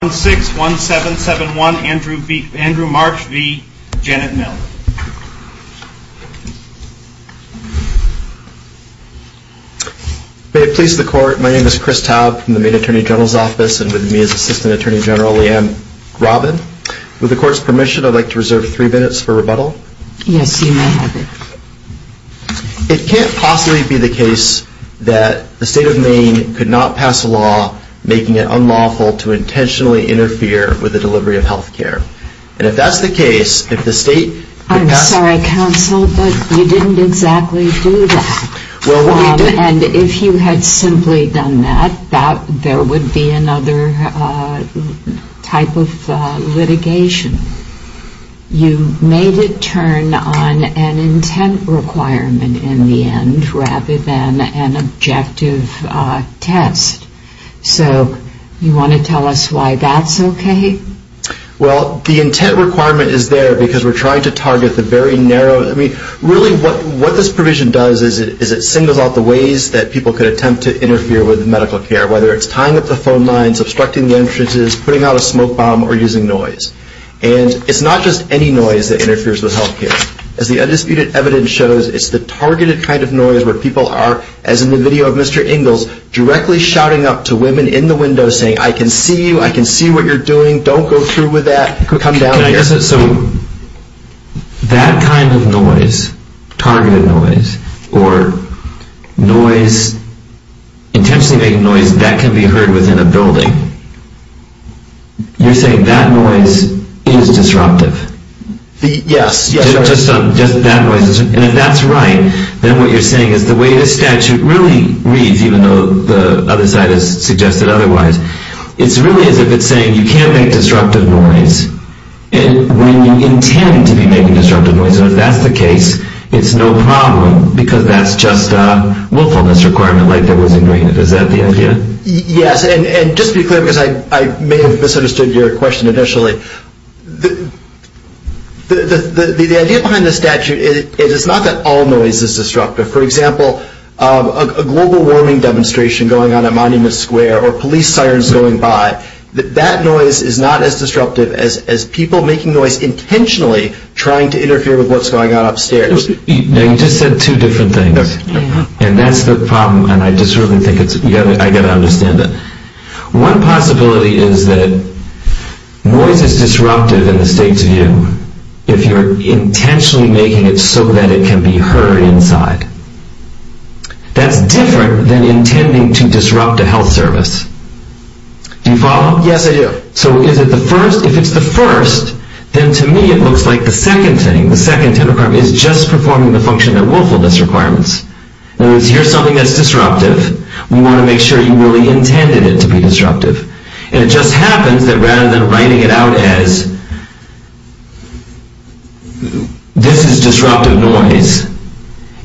May it please the court, my name is Chris Taub from the Maine Attorney General's Office and with me is Assistant Attorney General Leanne Robin. With the court's permission I'd like to reserve three minutes for rebuttal. Yes, you may have it. It can't possibly be the case that the state of Maine could not pass a law making it unlawful to intentionally interfere with the delivery of health care. And if that's the case, if the state could pass... I'm sorry, counsel, but you didn't exactly do that. And if you had simply done that, there would be another type of litigation. You made it turn on an intent requirement in the end rather than an objective test. So, you want to tell us why that's okay? Well, the intent requirement is there because we're trying to target the very narrow... I mean, really what this provision does is it singles out the ways that people could attempt to interfere with medical care, whether it's tying up the phone lines, obstructing the entrances, putting out a smoke bomb or using noise. And it's not just any noise that where people are, as in the video of Mr. Ingalls, directly shouting up to women in the window saying, I can see you, I can see what you're doing, don't go through with that, come down here. So, that kind of noise, targeted noise, or noise, intentionally making noise that can be heard within a building, you're saying that noise is disruptive? Yes. Just that noise? And if that's right, then what you're saying is the way the statute really reads, even though the other side has suggested otherwise, it's really as if it's saying you can't make disruptive noise. And when you intend to be making disruptive noise, and if that's the case, it's no problem because that's just a willfulness requirement like there was in Greenland. Is that the idea? Yes. And just to be clear, because I may have misunderstood your question initially, the idea behind the statute is it's not that all noise is disruptive. For example, a global warming demonstration going on at Monument Square, or police sirens going by, that noise is not as disruptive as people making noise intentionally trying to interfere with what's going on upstairs. You just said two different things, and that's the problem, and I just really think I've got to understand that. One possibility is that noise is disruptive in the state's view if you're intentionally making it so that it can be heard inside. That's different than intending to disrupt a health service. Do you follow? Yes, I do. So, is it the first? If it's the first, then to me it looks like the second thing, the first is just performing the function of willfulness requirements. Here's something that's disruptive. We want to make sure you really intended it to be disruptive. And it just happens that rather than writing it out as, this is disruptive noise,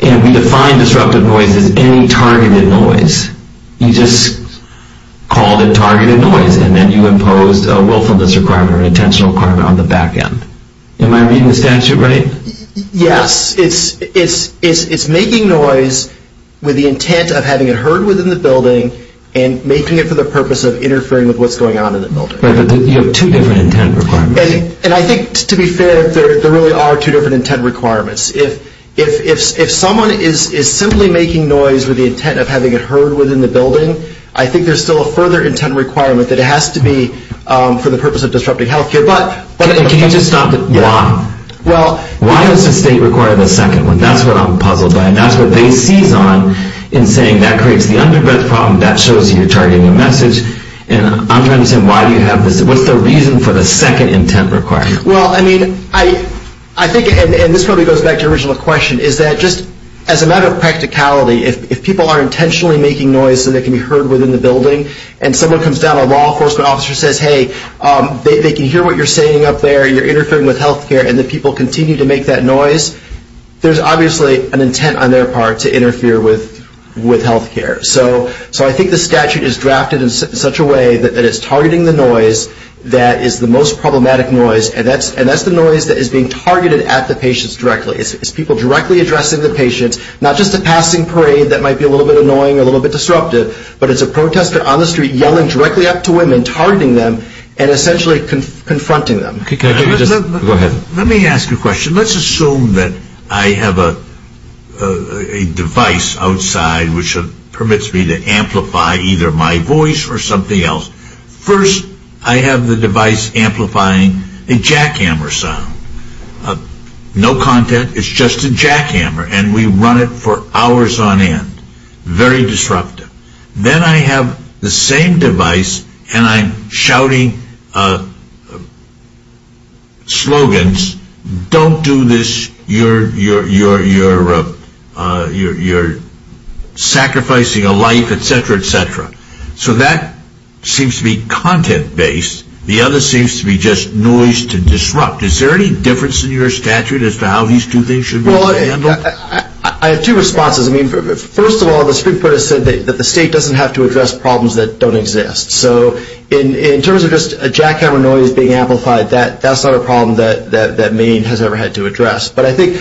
and we define disruptive noise as any targeted noise, you just called it targeted noise, and then you imposed a willfulness requirement or an intentional requirement on the back end. Am I reading the statute right? Yes. It's making noise with the intent of having it heard within the building and making it for the purpose of interfering with what's going on in the building. But you have two different intent requirements. And I think, to be fair, there really are two different intent requirements. If someone is simply making noise with the intent of having it heard within the building, I think there's still a further intent requirement that it has to be for the purpose of disrupting health care. Can you just stop? Why? Why does the state require the second one? That's what I'm puzzled by. And that's what they seize on in saying that creates the underbirth problem. That shows you're targeting a message. And I'm trying to say, why do you have this? What's the reason for the second intent requirement? Well, I mean, I think, and this probably goes back to your original question, is that just as a matter of practicality, if people are intentionally making noise so that it can be heard within the building, and someone comes down, a law enforcement officer says, hey, they can hear what you're saying up there, you're interfering with health care, and the people continue to make that noise, there's obviously an intent on their part to interfere with health care. So I think the statute is drafted in such a way that it's targeting the noise that is the most problematic noise. And that's the noise that is being targeted at the patients directly. It's people directly addressing the patient, not just a passing parade that might be a little bit annoying, a little bit disruptive, but it's a protester on the street yelling directly up to women, targeting them, and essentially confronting them. Let me ask you a question. Let's assume that I have a device outside which permits me to amplify either my voice or something else. First, I have the device amplifying a jackhammer sound. No content, it's just a jackhammer. And we run it for hours on end. Very disruptive. Then I have the same device and I'm shouting slogans, don't do this, you're sacrificing a life, etc., etc. So that seems to be content-based. The other seems to be just noise to disrupt. Is there any difference in your statute as to how these two things should be handled? I have two responses. First of all, the Supreme Court has said that the state doesn't have to address problems that don't exist. So in terms of just a jackhammer noise being amplified, that's not a problem that Maine has ever had to address. But I think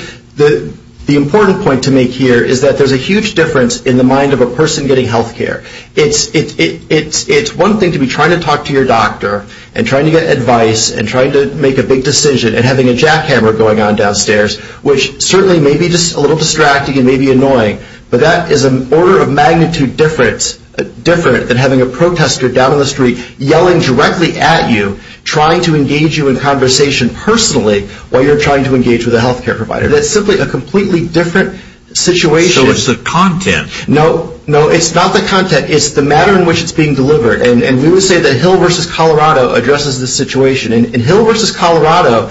the important point to make here is that there's a huge difference in the mind of a person getting health care. It's one thing to be trying to talk to your doctor and trying to get advice and trying to make a big decision and having a jackhammer going on downstairs, which certainly may be a little distracting and may be annoying, but that is an order of magnitude different than having a protester down on the street yelling directly at you trying to engage you in conversation personally while you're trying to engage with a health care provider. That's simply a completely different situation. So it's the content. No, it's not the content, it's the matter in which it's being delivered. And we would say that Hill v. Colorado addresses this situation. In Hill v. Colorado,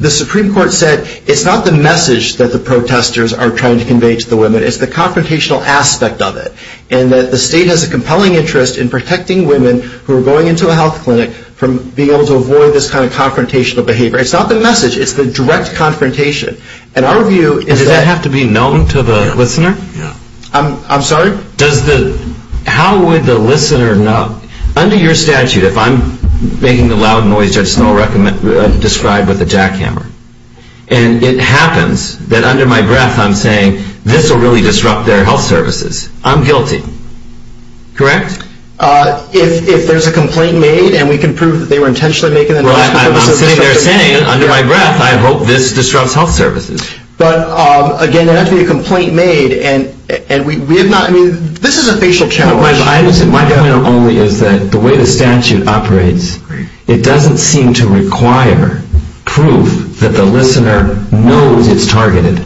the Supreme Court said it's not the message that the protesters are trying to convey to the women, it's the confrontational aspect of it. And that the state has a compelling interest in protecting women who are going into a health clinic from being able to avoid this kind of confrontational behavior. It's not the message, it's the direct confrontation. And our view is that... Does that have to be known to the listener? I'm sorry? How would the listener know? Under your statute, if I'm making the loud noise that Snow described with a jackhammer, and it happens that under my breath I'm saying, this will really disrupt their health services, I'm guilty. Correct? If there's a complaint made and we can prove that they were intentionally making the noise... Well, I'm sitting there saying, under my breath, I hope this disrupts health services. But again, there doesn't have to be a complaint made and we have not... I mean, this is a facial challenge. My point only is that the way the statute operates, it doesn't seem to require proof that the listener knows it's targeted.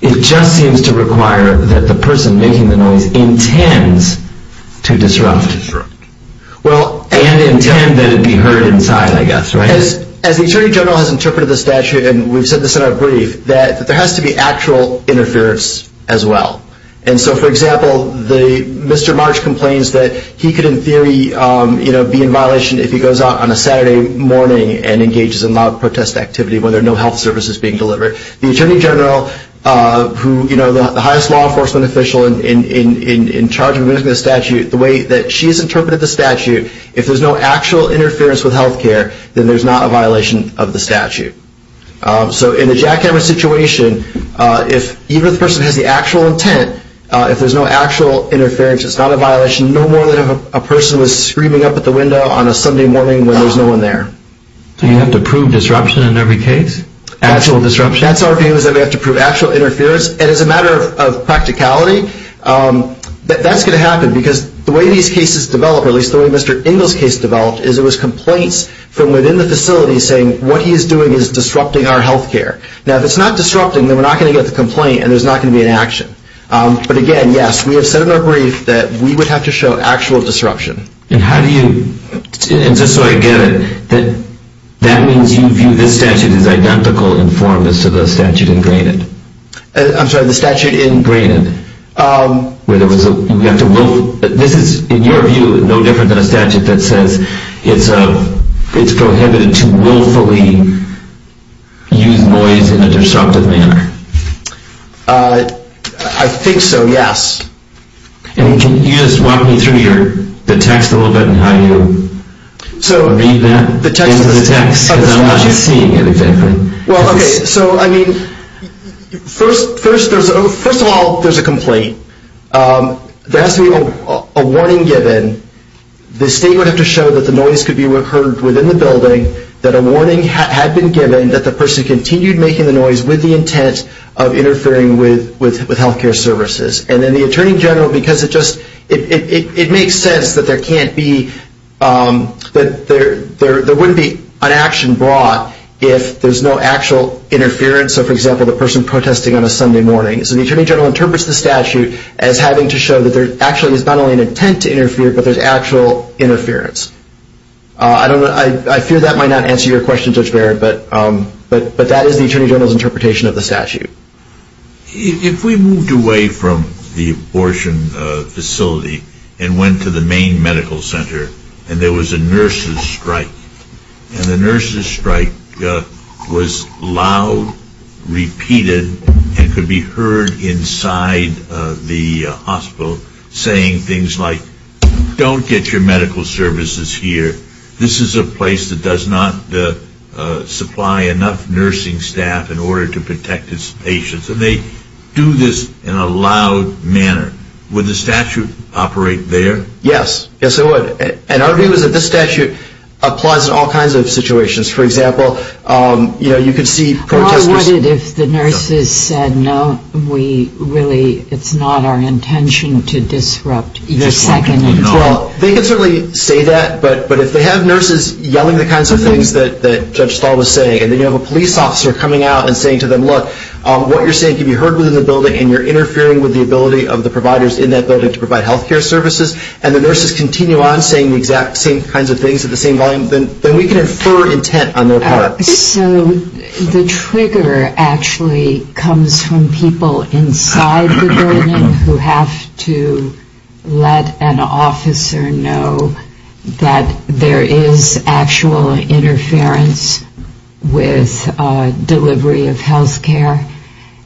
It just seems to require that the person making the noise intends to disrupt. Well, and intend that it be heard inside, I guess, right? As the Attorney General has interpreted the statute, and we've said this in our brief, there has to be actual interference as well. And so, for example, Mr. March complains that he could, in theory, be in violation if he goes out on a Saturday morning and engages in loud protest activity when there are no health services being delivered. The Attorney General, the highest law enforcement official in charge of the statute, the way that she's interpreted the statute, if there's no actual interference with health care, then there's not a violation of the statute. So in a jackhammer situation, if even the person has the actual intent, if there's no actual interference, it's not a violation, no more than if a person was screaming up at the window on a Sunday morning when there's no one there. So you have to prove disruption in every case? Actual disruption? That's our view, is that we have to prove actual interference. And as a matter of practicality, that's going to happen because the way these cases develop, or at least the way Mr. Engel's case developed, is it was complaints from within the facility saying what he is doing is disrupting our health care. Now, if it's not disrupting, then we're not going to get the complaint and there's not going to be an action. But again, yes, we have said in our brief that we would have to show actual disruption. And how do you, and just so I get it, that means you view this statute as identical in form as to the statute ingrained? I'm sorry, the statute ingrained? This is, in your view, no different than a statute that says it's prohibited to willfully use noise in a disruptive manner? I think so, yes. And can you just walk me through the text a little bit and how you read that into the text? Because I'm not seeing it exactly. Well, okay, so I mean, first of all, there's a complaint. There has to be a warning given. The state would have to show that the noise could be heard within the building, that a warning had been given that the person continued making the noise with the intent of interfering with health care services. And then the Attorney General, because it just, it makes sense that there can't be, that there wouldn't be an action brought if there's no actual interference of, for example, a person protesting on a Sunday morning. So the Attorney General interprets the statute as having to show that there actually is not only an intent to interfere, but there's actual interference. I don't know, I fear that might not answer your question, Judge Barrett, but that is the Attorney General's interpretation of the statute. If we moved away from the abortion facility and went to the main medical center and there was a nurse's strike, and the nurse's strike was loud, repeated, and could be heard inside the hospital saying things like, don't get your medical services here. This is a place that does not supply enough nursing staff in order to protect its patients. And they do this in a loud manner. Would the statute operate there? Yes. Yes, it would. And our view is that the statute applies in all kinds of situations. For example, you know, you could see protesters... Well, I wondered if the nurses said, no, we really, it's not our intention to disrupt. It's a second intent. Well, they can certainly say that, but if they have nurses yelling the kinds of things that Judge Stahl was saying, and then you have a police officer coming out and saying to them, look, what you're saying can be heard within the building and you're interfering with the ability of the providers in that building to provide health care services, and the nurses continue on saying the exact same kinds of things at the same volume, then we can infer intent on their part. So the trigger actually comes from people inside the building who have to let an officer know that there is actual interference with delivery of health care.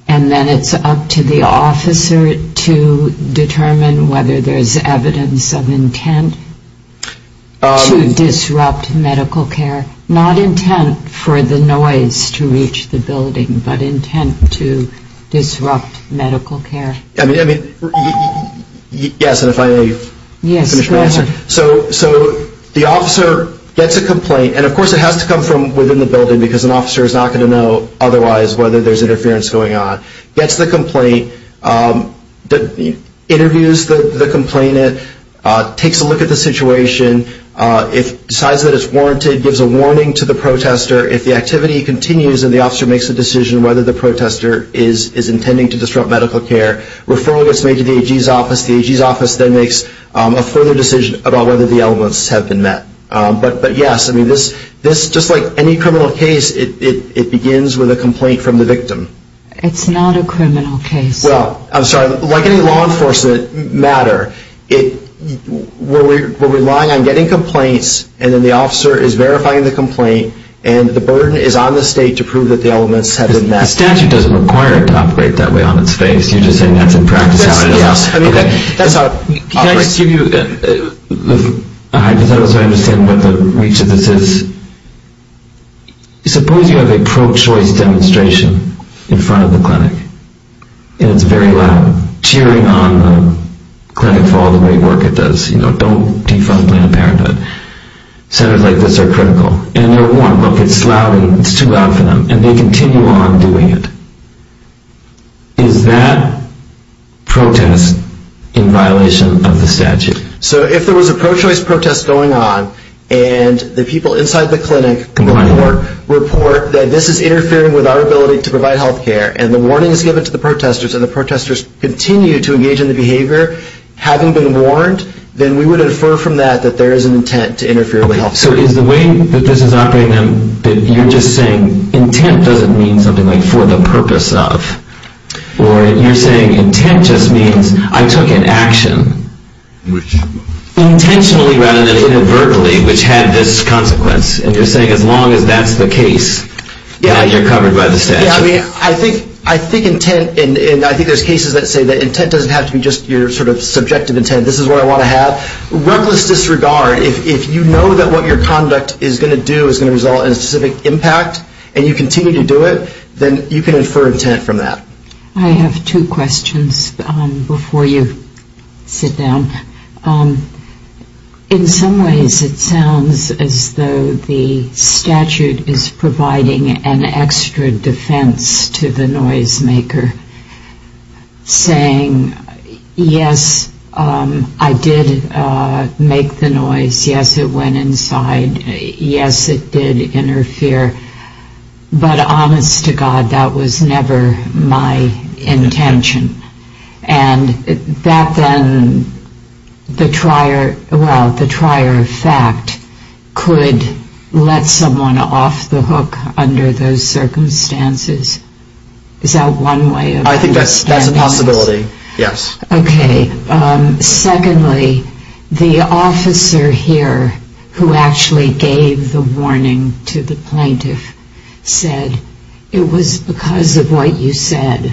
And then it's up to the officer to determine whether there's evidence of intent to disrupt medical care. Not intent for the noise to reach the building, but intent to disrupt medical care. I mean, yes, and if I may finish my answer. So the officer gets a complaint, and of course it has to come from within the building because an officer is not going to know otherwise whether there's interference going on. Gets the complaint, interviews the complainant, takes a look at the situation, decides that it's warranted, gives a warning to the protester. If the activity continues and the officer makes a decision whether the protester is intending to disrupt medical care, referral gets made to the AG's office. The AG's office then makes a further decision about whether the elements have been met. But yes, just like any criminal case, it begins with a complaint from the victim. It's not a criminal case. Well, I'm sorry, like any law enforcement matter, we're relying on getting complaints, and then the officer is verifying the complaint, and the burden is on the state to prove that the statute doesn't require it to operate that way on its face. You're just saying that's in practice how it is. Yes, I mean, that's how it operates. Can I just give you a hypothetical so I understand what the reach of this is? Suppose you have a pro-choice demonstration in front of the clinic, and it's very loud, cheering on the clinic for all the great work it does. You know, don't defund Planned Parenthood. Centers like this are critical, and they're warm. It's loud, and it's too loud for them, and they continue on doing it. Is that protest in violation of the statute? So if there was a pro-choice protest going on, and the people inside the clinic report that this is interfering with our ability to provide health care, and the warning is given to the protesters, and the protesters continue to engage in the behavior, having been warned, then we would infer from that that there is an intent to interfere with health care. So is the way that this is operating, that you're just saying intent doesn't mean something like for the purpose of, or you're saying intent just means I took an action intentionally rather than inadvertently, which had this consequence. And you're saying as long as that's the case, yeah, you're covered by the statute. Yeah, I mean, I think intent, and I think there's cases that say that intent doesn't have to be just your sort of subjective intent. This is what I want to have. Reckless disregard. If you know that what your conduct is going to do is going to result in a specific impact, and you continue to do it, then you can infer intent from that. I have two questions before you sit down. In some ways, it sounds as though the statute is providing an extra defense to the noisemaker, saying, yes, I did make the noise, yes, it went inside, yes, it did interfere. But honest to God, that was never my intention. And that then, the trier, well, the trier of fact could let someone off the hook under those circumstances. Is that one way of understanding this? I think that's a possibility, yes. Okay. Secondly, the officer here, who actually gave the warning to the plaintiff, said it was because of what you said,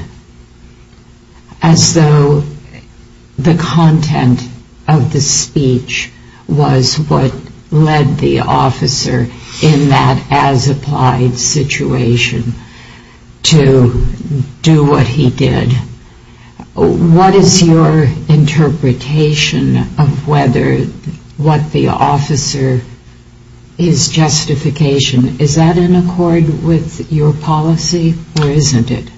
as though the content of the speech was what led the officer in that as-applied situation. To do what he did. What is your interpretation of whether what the officer is justification? Is that in accord with your policy, or isn't it?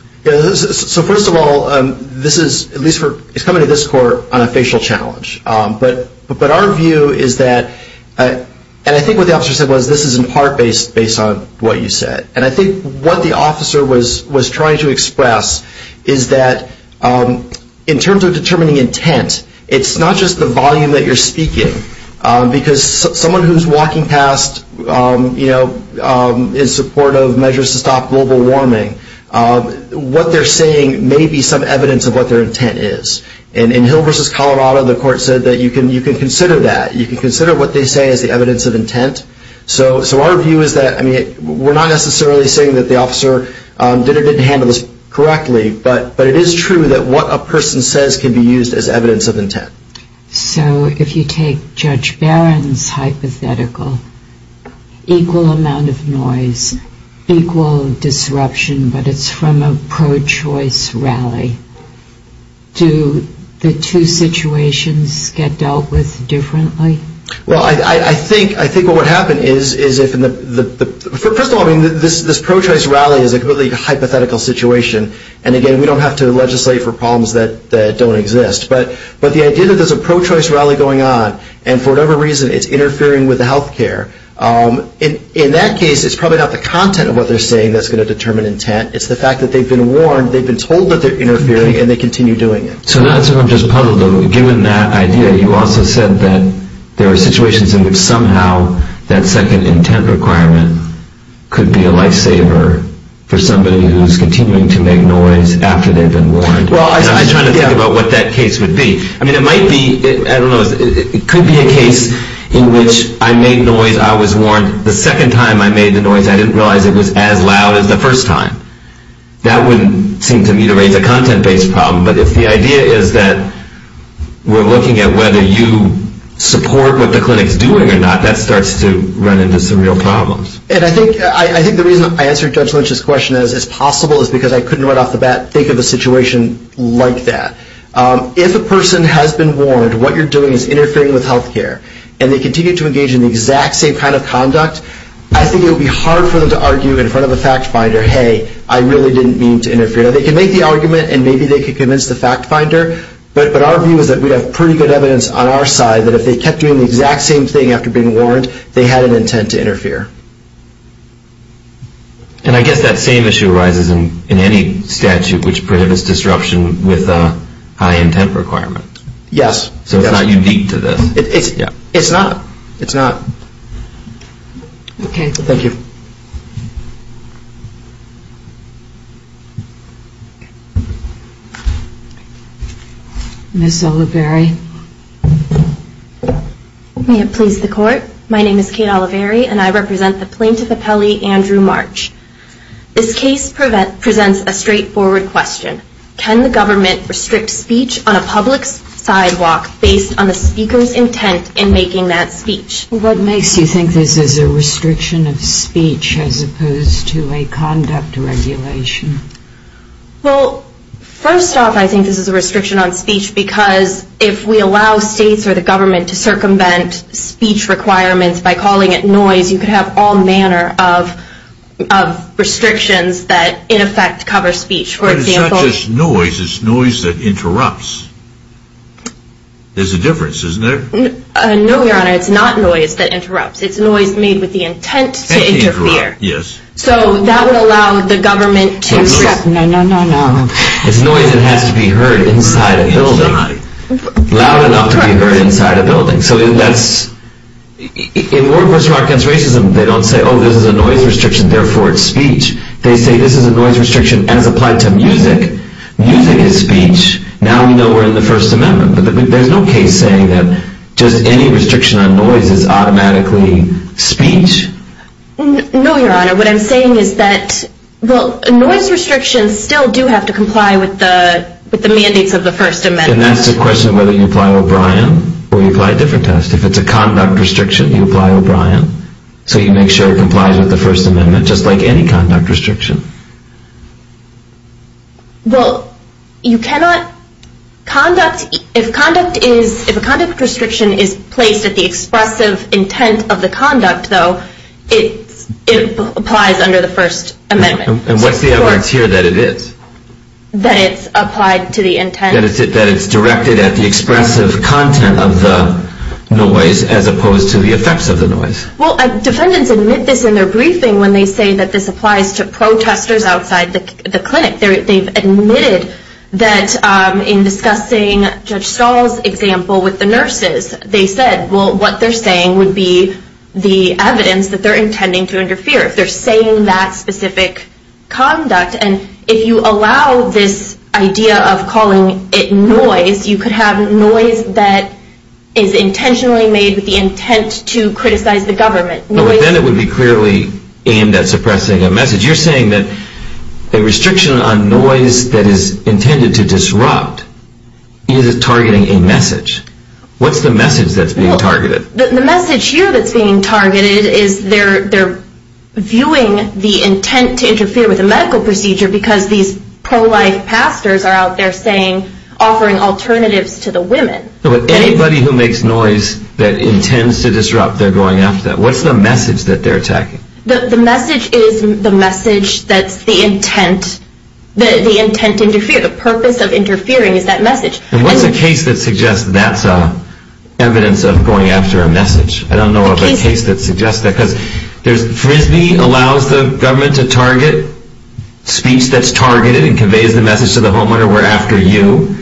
So first of all, this is, at least for, it's coming to this court on a facial challenge. But our view is that, and I think what the officer said was, this is in part based on what you said. And I think what the officer was trying to express is that in terms of determining intent, it's not just the volume that you're speaking. Because someone who's walking past, you know, in support of measures to stop global warming, what they're saying may be some evidence of what their intent is. And in Hill versus Colorado, the court said that you can consider that. So our view is that, I mean, we're not necessarily saying that the officer did or didn't handle this correctly, but it is true that what a person says can be used as evidence of intent. So if you take Judge Barron's hypothetical, equal amount of noise, equal disruption, but it's from a pro-choice rally, do the two situations get dealt with differently? Well, I think what would happen is if, first of all, this pro-choice rally is a completely hypothetical situation. And again, we don't have to legislate for problems that don't exist. But the idea that there's a pro-choice rally going on, and for whatever reason, it's interfering with the health care, in that case, it's probably not the content of what they're saying that's going to determine intent. It's the fact that they've been warned, they've been told that they're interfering, and they continue doing it. So that's what I'm just puzzled over. Given that idea, you also said that there are situations in which somehow that second intent requirement could be a lifesaver for somebody who's continuing to make noise after they've been warned. Well, I was trying to think about what that case would be. I mean, it might be, I don't know, it could be a case in which I made noise, I was warned. The second time I made the noise, I didn't realize it was as loud as the first time. That wouldn't seem to me to raise a content-based problem. But if the idea is that we're looking at whether you support what the clinic's doing or not, that starts to run into some real problems. And I think the reason I answered Judge Lynch's question as possible is because I couldn't right off the bat think of a situation like that. If a person has been warned, what you're doing is interfering with health care, and they continue to engage in the exact same kind of conduct, I think it would be hard for them to argue in front of a fact finder, hey, I really didn't mean to interfere. Now, they can make the argument, and maybe they can convince the fact finder, but our view is that we have pretty good evidence on our side that if they kept doing the exact same thing after being warned, they had an intent to interfere. And I guess that same issue arises in any statute which prohibits disruption with a high intent requirement. Yes. So it's not unique to this. It's not. It's not. Okay. Thank you. Ms. Oliveri. May it please the Court. My name is Kate Oliveri, and I represent the plaintiff appellee, Andrew March. This case presents a straightforward question. Can the government restrict speech on a public sidewalk based on the speaker's intent in making that speech? What makes you think this is a restriction of speech as opposed to a conduct regulation? Well, first off, I think this is a restriction on speech because if we allow states or the government to circumvent speech requirements by calling it noise, you could have all manner of restrictions that, in effect, cover speech. But it's not just noise. It's noise that interrupts. There's a difference, isn't there? No, Your Honor. It's not noise that interrupts. It's noise made with the intent to interfere. Yes. So that would allow the government to accept... No, no, no, no, no. It's noise that has to be heard inside a building, loud enough to be heard inside a building. So that's... In War Against Racism, they don't say, oh, this is a noise restriction, therefore it's speech. They say this is a noise restriction as applied to music. Music is speech. Now we know we're in the First Amendment. But there's no case saying that just any restriction on noise is automatically speech. No, Your Honor. What I'm saying is that, well, noise restrictions still do have to comply with the mandates of the First Amendment. And that's the question of whether you apply O'Brien or you apply a different test. If it's a conduct restriction, you apply O'Brien. So you make sure it complies with the First Amendment, just like any conduct restriction. Well, you cannot conduct... If conduct is... If a conduct restriction is placed at the expressive intent of the conduct, though, it applies under the First Amendment. And what's the evidence here that it is? That it's applied to the intent... That it's directed at the expressive content of the noise as opposed to the effects of the noise. Well, defendants admit this in their briefing when they say that this applies to protesters outside the clinic. They've admitted that in discussing Judge Stahl's example with the nurses, they said, well, what they're saying would be the evidence that they're intending to interfere. If they're saying that specific conduct. And if you allow this idea of calling it noise, you could have noise that is intentionally made with the intent to criticize the government. No, but then it would be clearly aimed at suppressing a message. You're saying that a restriction on noise that is intended to disrupt is targeting a message. What's the message that's being targeted? The message here that's being targeted is they're viewing the intent to interfere with a medical procedure because these pro-life pastors are out there saying... Offering alternatives to the women. No, but anybody who makes noise that intends to disrupt, they're going after that. What's the message that they're attacking? The message is the message that's the intent... The intent to interfere. The purpose of interfering is that message. And what's a case that suggests that's evidence of going after a message? I don't know of a case that suggests that. Because there's Frisbee allows the government to target speech that's targeted and conveys the message to the homeowner, we're after you.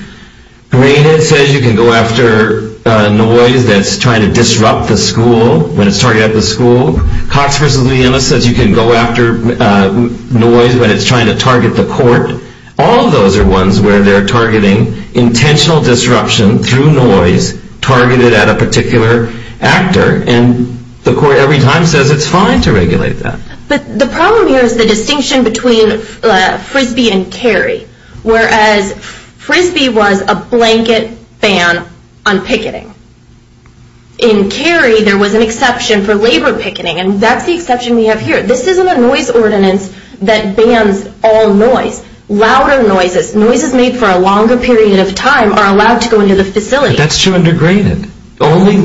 Graded says you can go after noise that's trying to disrupt the school, when it's targeting the school. Cox v. Liena says you can go after noise when it's trying to target the court. All of those are ones where they're targeting intentional disruption through noise, targeted at a particular actor, and the court every time says it's fine to regulate that. But the problem here is the distinction between Frisbee and Cary, whereas Frisbee was a blanket ban on picketing. In Cary, there was an exception for labor picketing, and that's the exception we have here. This isn't a noise ordinance that bans all noise. Louder noises, noises made for a longer period of time are allowed to go into the facility. That's true under Graded. Only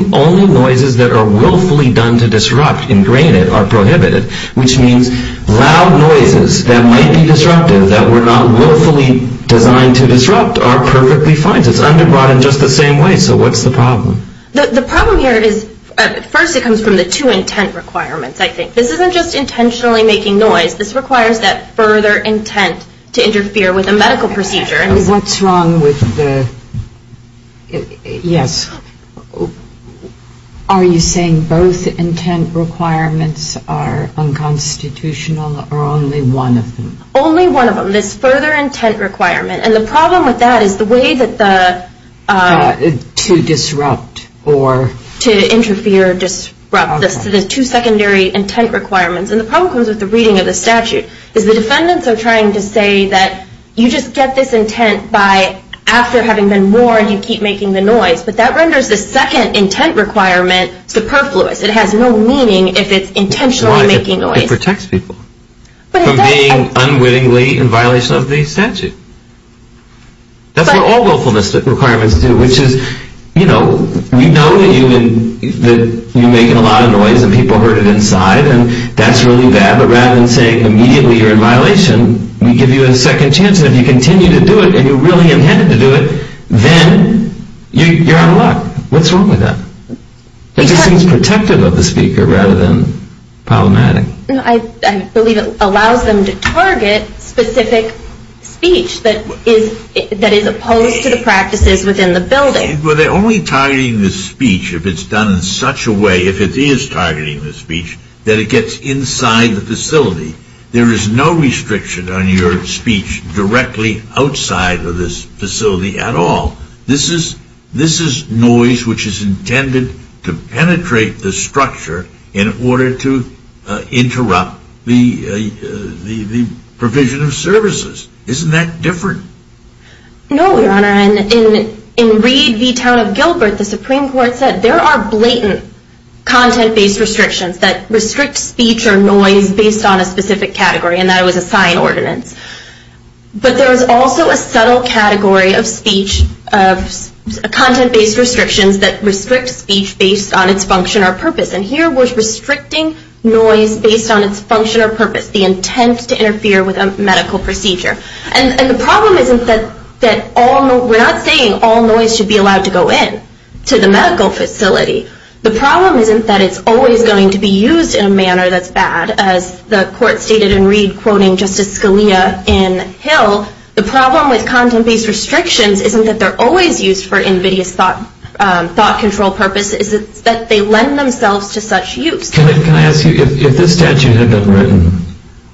noises that are willfully done to disrupt in Graded are prohibited, which means loud noises that might be disruptive that were not willfully designed to disrupt are perfectly fine. It's under Broughton just the same way. So what's the problem? The problem here is, first, it comes from the two intent requirements, I think. This isn't just intentionally making noise. This requires that further intent to interfere with a medical procedure. What's wrong with the, yes, are you saying both intent requirements are unconstitutional or only one of them? Only one of them, this further intent requirement. And the problem with that is the way that the... To disrupt or... To interfere or disrupt the two secondary intent requirements. And the problem comes with the reading of the statute, is the defendants are trying to say that you just get this intent by after having been warned, you keep making the noise. But that renders the second intent requirement superfluous. It has no meaning if it's intentionally making noise. It protects people from being unwittingly in violation of the statute. That's what all willfulness requirements do, which is, you know, we know that you make a lot of noise and people heard it inside and that's really bad. But rather than saying immediately you're in violation, we give you a second chance and if you continue to do it and you're really intended to do it, then you're out of luck. What's wrong with that? It just seems protective of the speaker rather than problematic. I believe it allows them to target specific speech that is opposed to the practices within the building. But they're only targeting the speech if it's done in such a way, if it is targeting the speech, that it gets inside the facility. There is no restriction on your speech directly outside of this facility at all. This is noise which is intended to penetrate the structure in order to interrupt the provision of services. Isn't that different? No, Your Honor. And in Reed v. Town of Gilbert, the Supreme Court said there are blatant content-based restrictions that restrict speech or noise based on a specific category, and that was a sign ordinance. But there is also a subtle category of speech, of content-based restrictions that restrict speech based on its function or purpose. And here we're restricting noise based on its function or purpose, the intent to interfere with a medical procedure. And the problem isn't that all, we're not saying all noise should be allowed to go in to the medical facility. The problem isn't that it's always going to be used in a manner that's bad, as the in Hill, the problem with content-based restrictions isn't that they're always used for invidious thought control purposes, it's that they lend themselves to such use. Can I ask you, if this statute had been written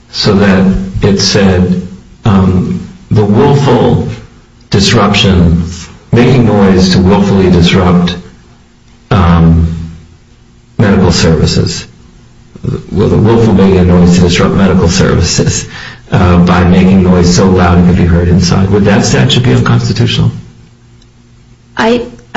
so that it said the willful disruption, making noise to willfully disrupt medical services, the willful making of noise to disrupt medical services by making noise so loud it could be heard inside, would that statute be unconstitutional?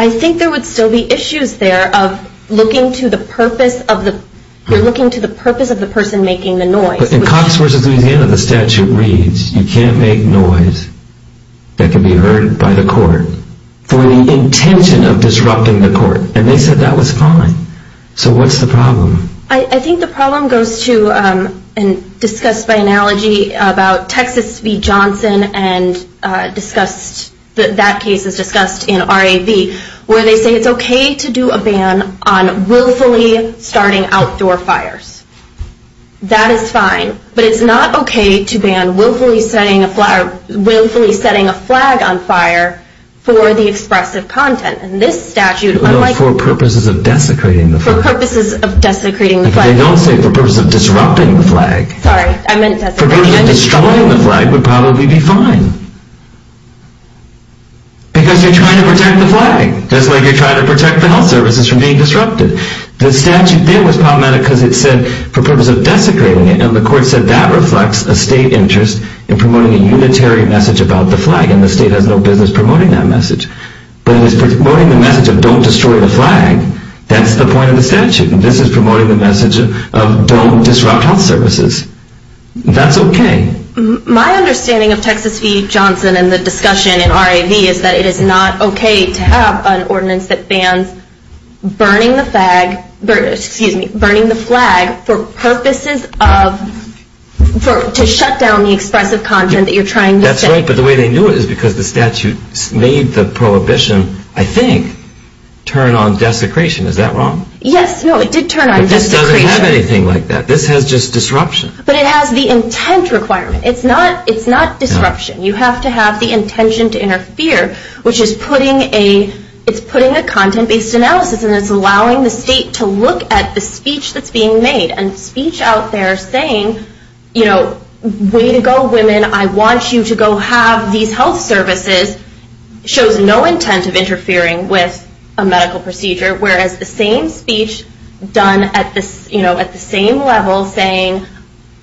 I think there would still be issues there of looking to the purpose of the, you're looking to the purpose of the person making the noise. But in Cox v. Louisiana, the statute reads, you can't make noise that can be heard by the court for the intention of disrupting the court, and they said that was fine. So what's the problem? I think the problem goes to, and discussed by analogy about Texas v. Johnson and discussed, that case is discussed in RAV, where they say it's okay to do a ban on willfully starting outdoor fires. That is fine, but it's not okay to ban willfully setting a flag, willfully setting a flag on fire for the expressive content. And this statute, unlike- For purposes of desecrating the- For purposes of desecrating the flag. They don't say for purposes of disrupting the flag. Sorry, I meant desecrating the flag. For purposes of destroying the flag would probably be fine. Because you're trying to protect the flag. Just like you're trying to protect the health services from being disrupted. The statute there was problematic because it said for purposes of desecrating it, and the court said that reflects a state interest in promoting a unitary message about the flag, and the state has no business promoting that message. But it was promoting the message of don't destroy the flag. That's the point of the statute. And this is promoting the message of don't disrupt health services. That's okay. My understanding of Texas v. Johnson and the discussion in RAV is that it is not okay to have an ordinance that bans burning the flag for purposes of, to shut down the expressive content that you're trying to say. But the way they knew it is because the statute made the prohibition, I think, turn on desecration. Is that wrong? Yes, no, it did turn on desecration. But this doesn't have anything like that. This has just disruption. But it has the intent requirement. It's not disruption. You have to have the intention to interfere, which is putting a content-based analysis, and it's allowing the state to look at the speech that's being made, and speech out there saying, way to go, women, I want you to go have these health services, shows no intent of interfering with a medical procedure. Whereas the same speech done at the same level saying,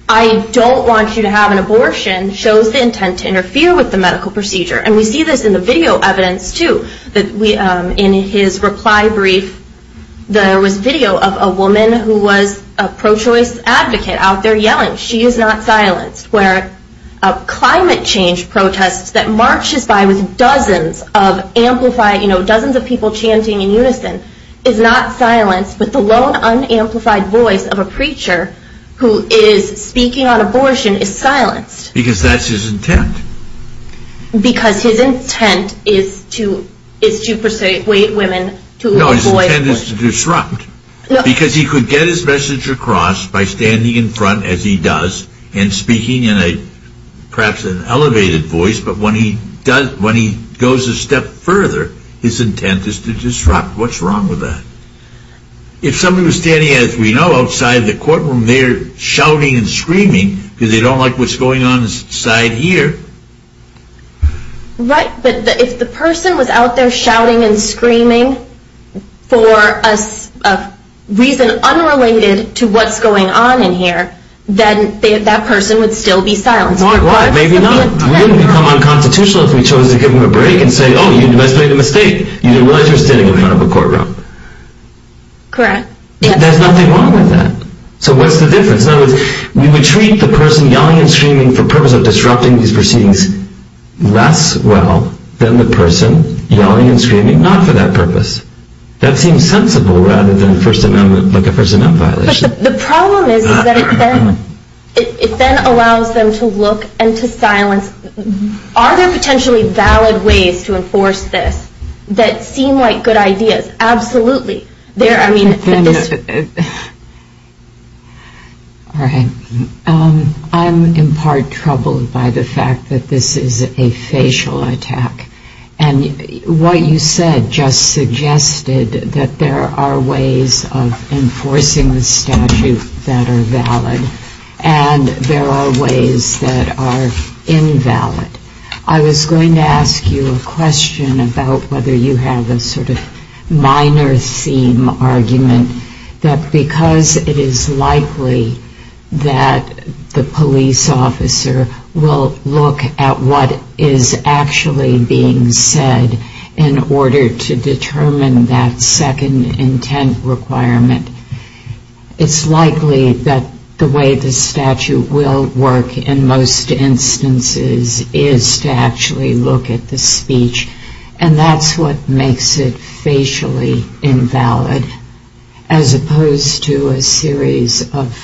I don't want you to have an abortion, shows the intent to interfere with the medical procedure. And we see this in the video evidence, too. In his reply brief, there was video of a woman who was a pro-choice advocate out there yelling, she is not silenced. Where a climate change protest that marches by with dozens of people chanting in unison is not silenced, but the lone unamplified voice of a preacher who is speaking on abortion is silenced. Because that's his intent. Because his intent is to persuade women to avoid abortion. No, his intent is to disrupt. Because he could get his message across by standing in front as he does, and speaking in perhaps an elevated voice. But when he goes a step further, his intent is to disrupt. What's wrong with that? If somebody was standing, as we know, outside the courtroom there shouting and screaming because they don't like what's going on inside here. Right, but if the person was out there shouting and screaming for a reason unrelated to what's going on in here, then that person would still be silenced. Why? Maybe not. We didn't become unconstitutional if we chose to give them a break and say, oh, you must have made a mistake. You didn't realize you were standing in front of a courtroom. Correct. There's nothing wrong with that. So what's the difference? We would treat the person yelling and screaming for purpose of disrupting these proceedings less well than the person yelling and screaming not for that purpose. That seems sensible rather than a First Amendment violation. The problem is that it then allows them to look and to silence. Are there potentially valid ways to enforce this that seem like good ideas? Absolutely. I'm in part troubled by the fact that this is a facial attack. And what you said just suggested that there are ways of enforcing the statute that are valid, and there are ways that are invalid. I was going to ask you a question about whether you have a sort of minor theme argument that because it is likely that the police officer will look at what is actually being said in order to determine that second intent requirement, it's likely that the way the statute will work in most instances is to actually look at the speech. And that's what makes it facially invalid as opposed to a series of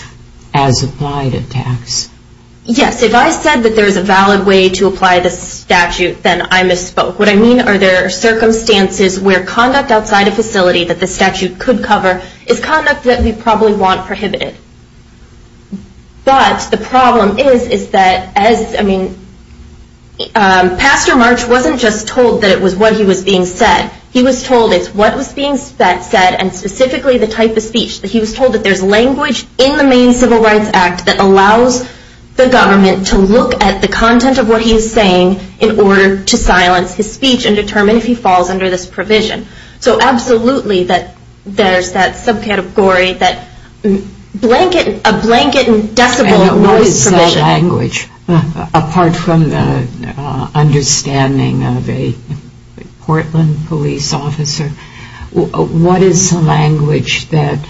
as-applied attacks. Yes. If I said that there's a valid way to apply the statute, then I misspoke. What I mean are there circumstances where conduct outside a facility that the statute could cover is conduct that we probably want prohibited. But the problem is, is that as, I mean, Pastor March wasn't just told that it was what he was being said. He was told it's what was being said and specifically the type of speech. He was told that there's language in the Maine Civil Rights Act that allows the government to look at the content of what he is saying in order to silence his speech and determine if he falls under this provision. So absolutely that there's that subcategory, that blanket, a blanket and decibel noise And what is that language? Apart from the understanding of a Portland police officer, what is the language that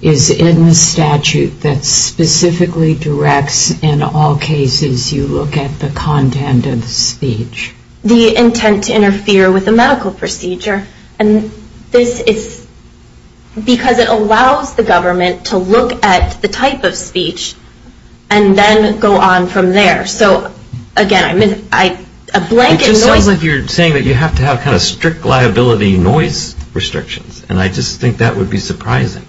is in the statute that specifically directs in all cases you look at the content of the speech? The intent to interfere with the medical procedure. And this is because it allows the government to look at the type of speech and then go on from there. So again, I mean, I, a blanket noise. It just sounds like you're saying that you have to have kind of strict liability noise restrictions. And I just think that would be surprising.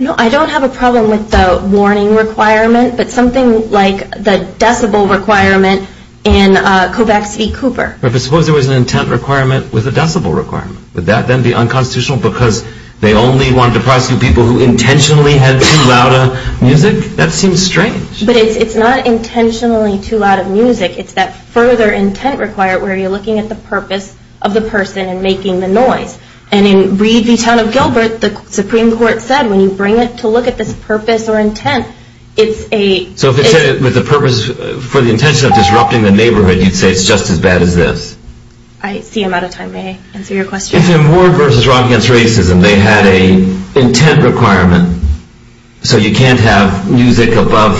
No, I don't have a problem with the warning requirement, but something like the decibel requirement in Kovacs v. Cooper. But suppose there was an intent requirement with a decibel requirement. Would that then be unconstitutional because they only wanted to prosecute people who intentionally had too loud a music? That seems strange. But it's not intentionally too loud of music. It's that further intent required where you're looking at the purpose of the person and making the noise. And in Reed v. Town of Gilbert, the Supreme Court said when you bring it to look at this purpose or intent, it's a. So if it's with the purpose for the intention of disrupting the neighborhood, you'd say it's just as bad as this. I see I'm out of time. May I answer your question? If in Ward v. Rock Against Racism, they had a intent requirement so you can't have music above,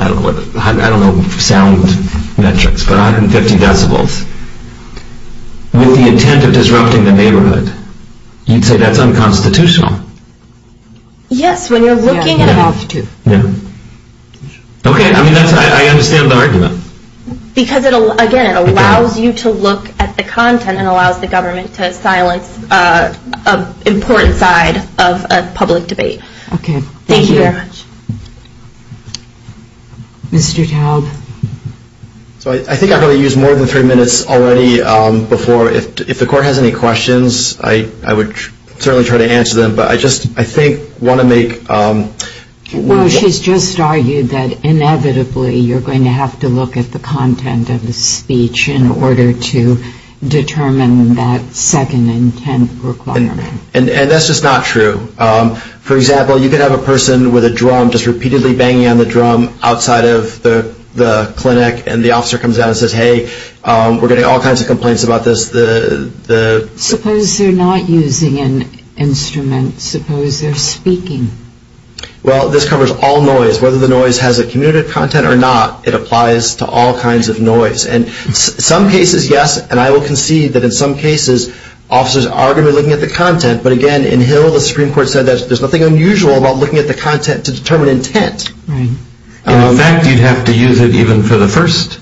I don't know what, I don't know sound metrics, but 150 decibels with the intent of disrupting the neighborhood, you'd say that's unconstitutional. Yes, when you're looking at. You have to. I mean, I understand the argument. Because, again, it allows you to look at the content and allows the government to silence an important side of a public debate. OK. Thank you very much. Mr. Taub. So I think I've already used more than three minutes already before. If the court has any questions, I would certainly try to answer them. But I just, I think, want to make. Well, she's just argued that, inevitably, you're going to have to look at the content of the speech in order to determine that second intent requirement. And that's just not true. For example, you could have a person with a drum just repeatedly banging on the drum outside of the clinic, and the officer comes out and says, hey, we're getting all kinds of complaints about this. Suppose they're not using an instrument. Suppose they're speaking. Well, this covers all noise. Whether the noise has a commutative content or not, it applies to all kinds of noise. And some cases, yes. And I will concede that, in some cases, officers are going to be looking at the content. But, again, in Hill, the Supreme Court said that there's nothing unusual about looking at the content to determine intent. Right. In fact, you'd have to use it even for the first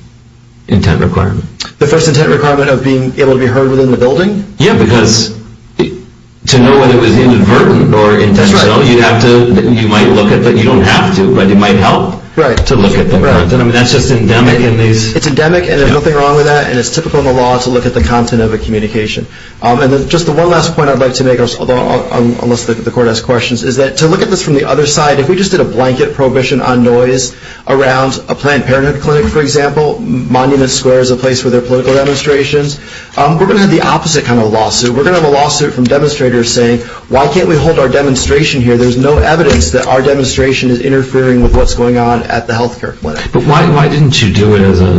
intent requirement. The first intent requirement of being able to be heard within the building? Yeah, because to know whether it was inadvertent or intentional, you might look at it. But you don't have to. But it might help to look at the content. That's just endemic in these. It's endemic, and there's nothing wrong with that. And it's typical in the law to look at the content of a communication. And just the one last point I'd like to make, unless the court has questions, is that to look at this from the other side, if we just did a blanket prohibition on noise around a Planned Parenthood clinic, for example, Monument Square is a place for their political demonstrations, we're going to have the opposite kind of lawsuit. We're going to have a lawsuit from demonstrators saying, why can't we hold our demonstration here? There's no evidence that our demonstration is interfering with what's going on at the health care clinic. But why didn't you do it as a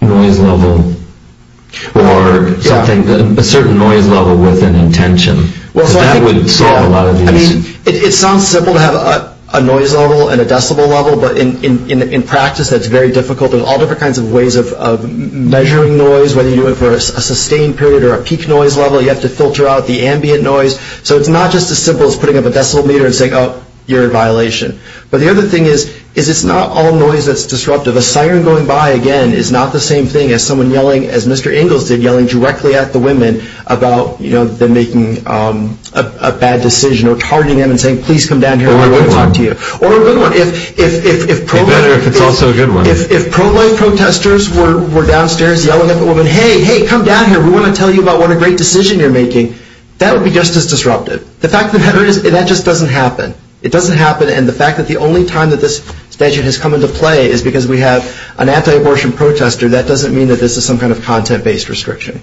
noise level or something, a certain noise level with an intention? Well, it sounds simple to have a noise level and a decibel level. But in practice, that's very difficult. There's all different kinds of ways of measuring noise, whether you do it for a sustained period or a peak noise level. You have to filter out the ambient noise. So it's not just as simple as putting up a decibel meter and saying, oh, you're in violation. But the other thing is, it's not all noise that's disruptive. A siren going by, again, is not the same thing as someone yelling, as Mr. Ingalls did, yelling directly at the women about them making a bad decision or targeting them and saying, please come down here, we want to talk to you. Or a good one. It would be better if it's also a good one. If pro-life protesters were downstairs yelling at the women, hey, hey, come down here, we want to tell you about what a great decision you're making, that would be just as disruptive. The fact of the matter is, that just doesn't happen. It doesn't happen. And the fact that the only time that this statute has come into play is because we have an anti-abortion protester, that doesn't mean that this is some kind of content-based restriction.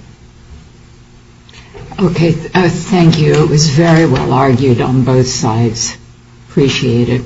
OK, thank you. It was very well argued on both sides. Appreciate it. Thank you.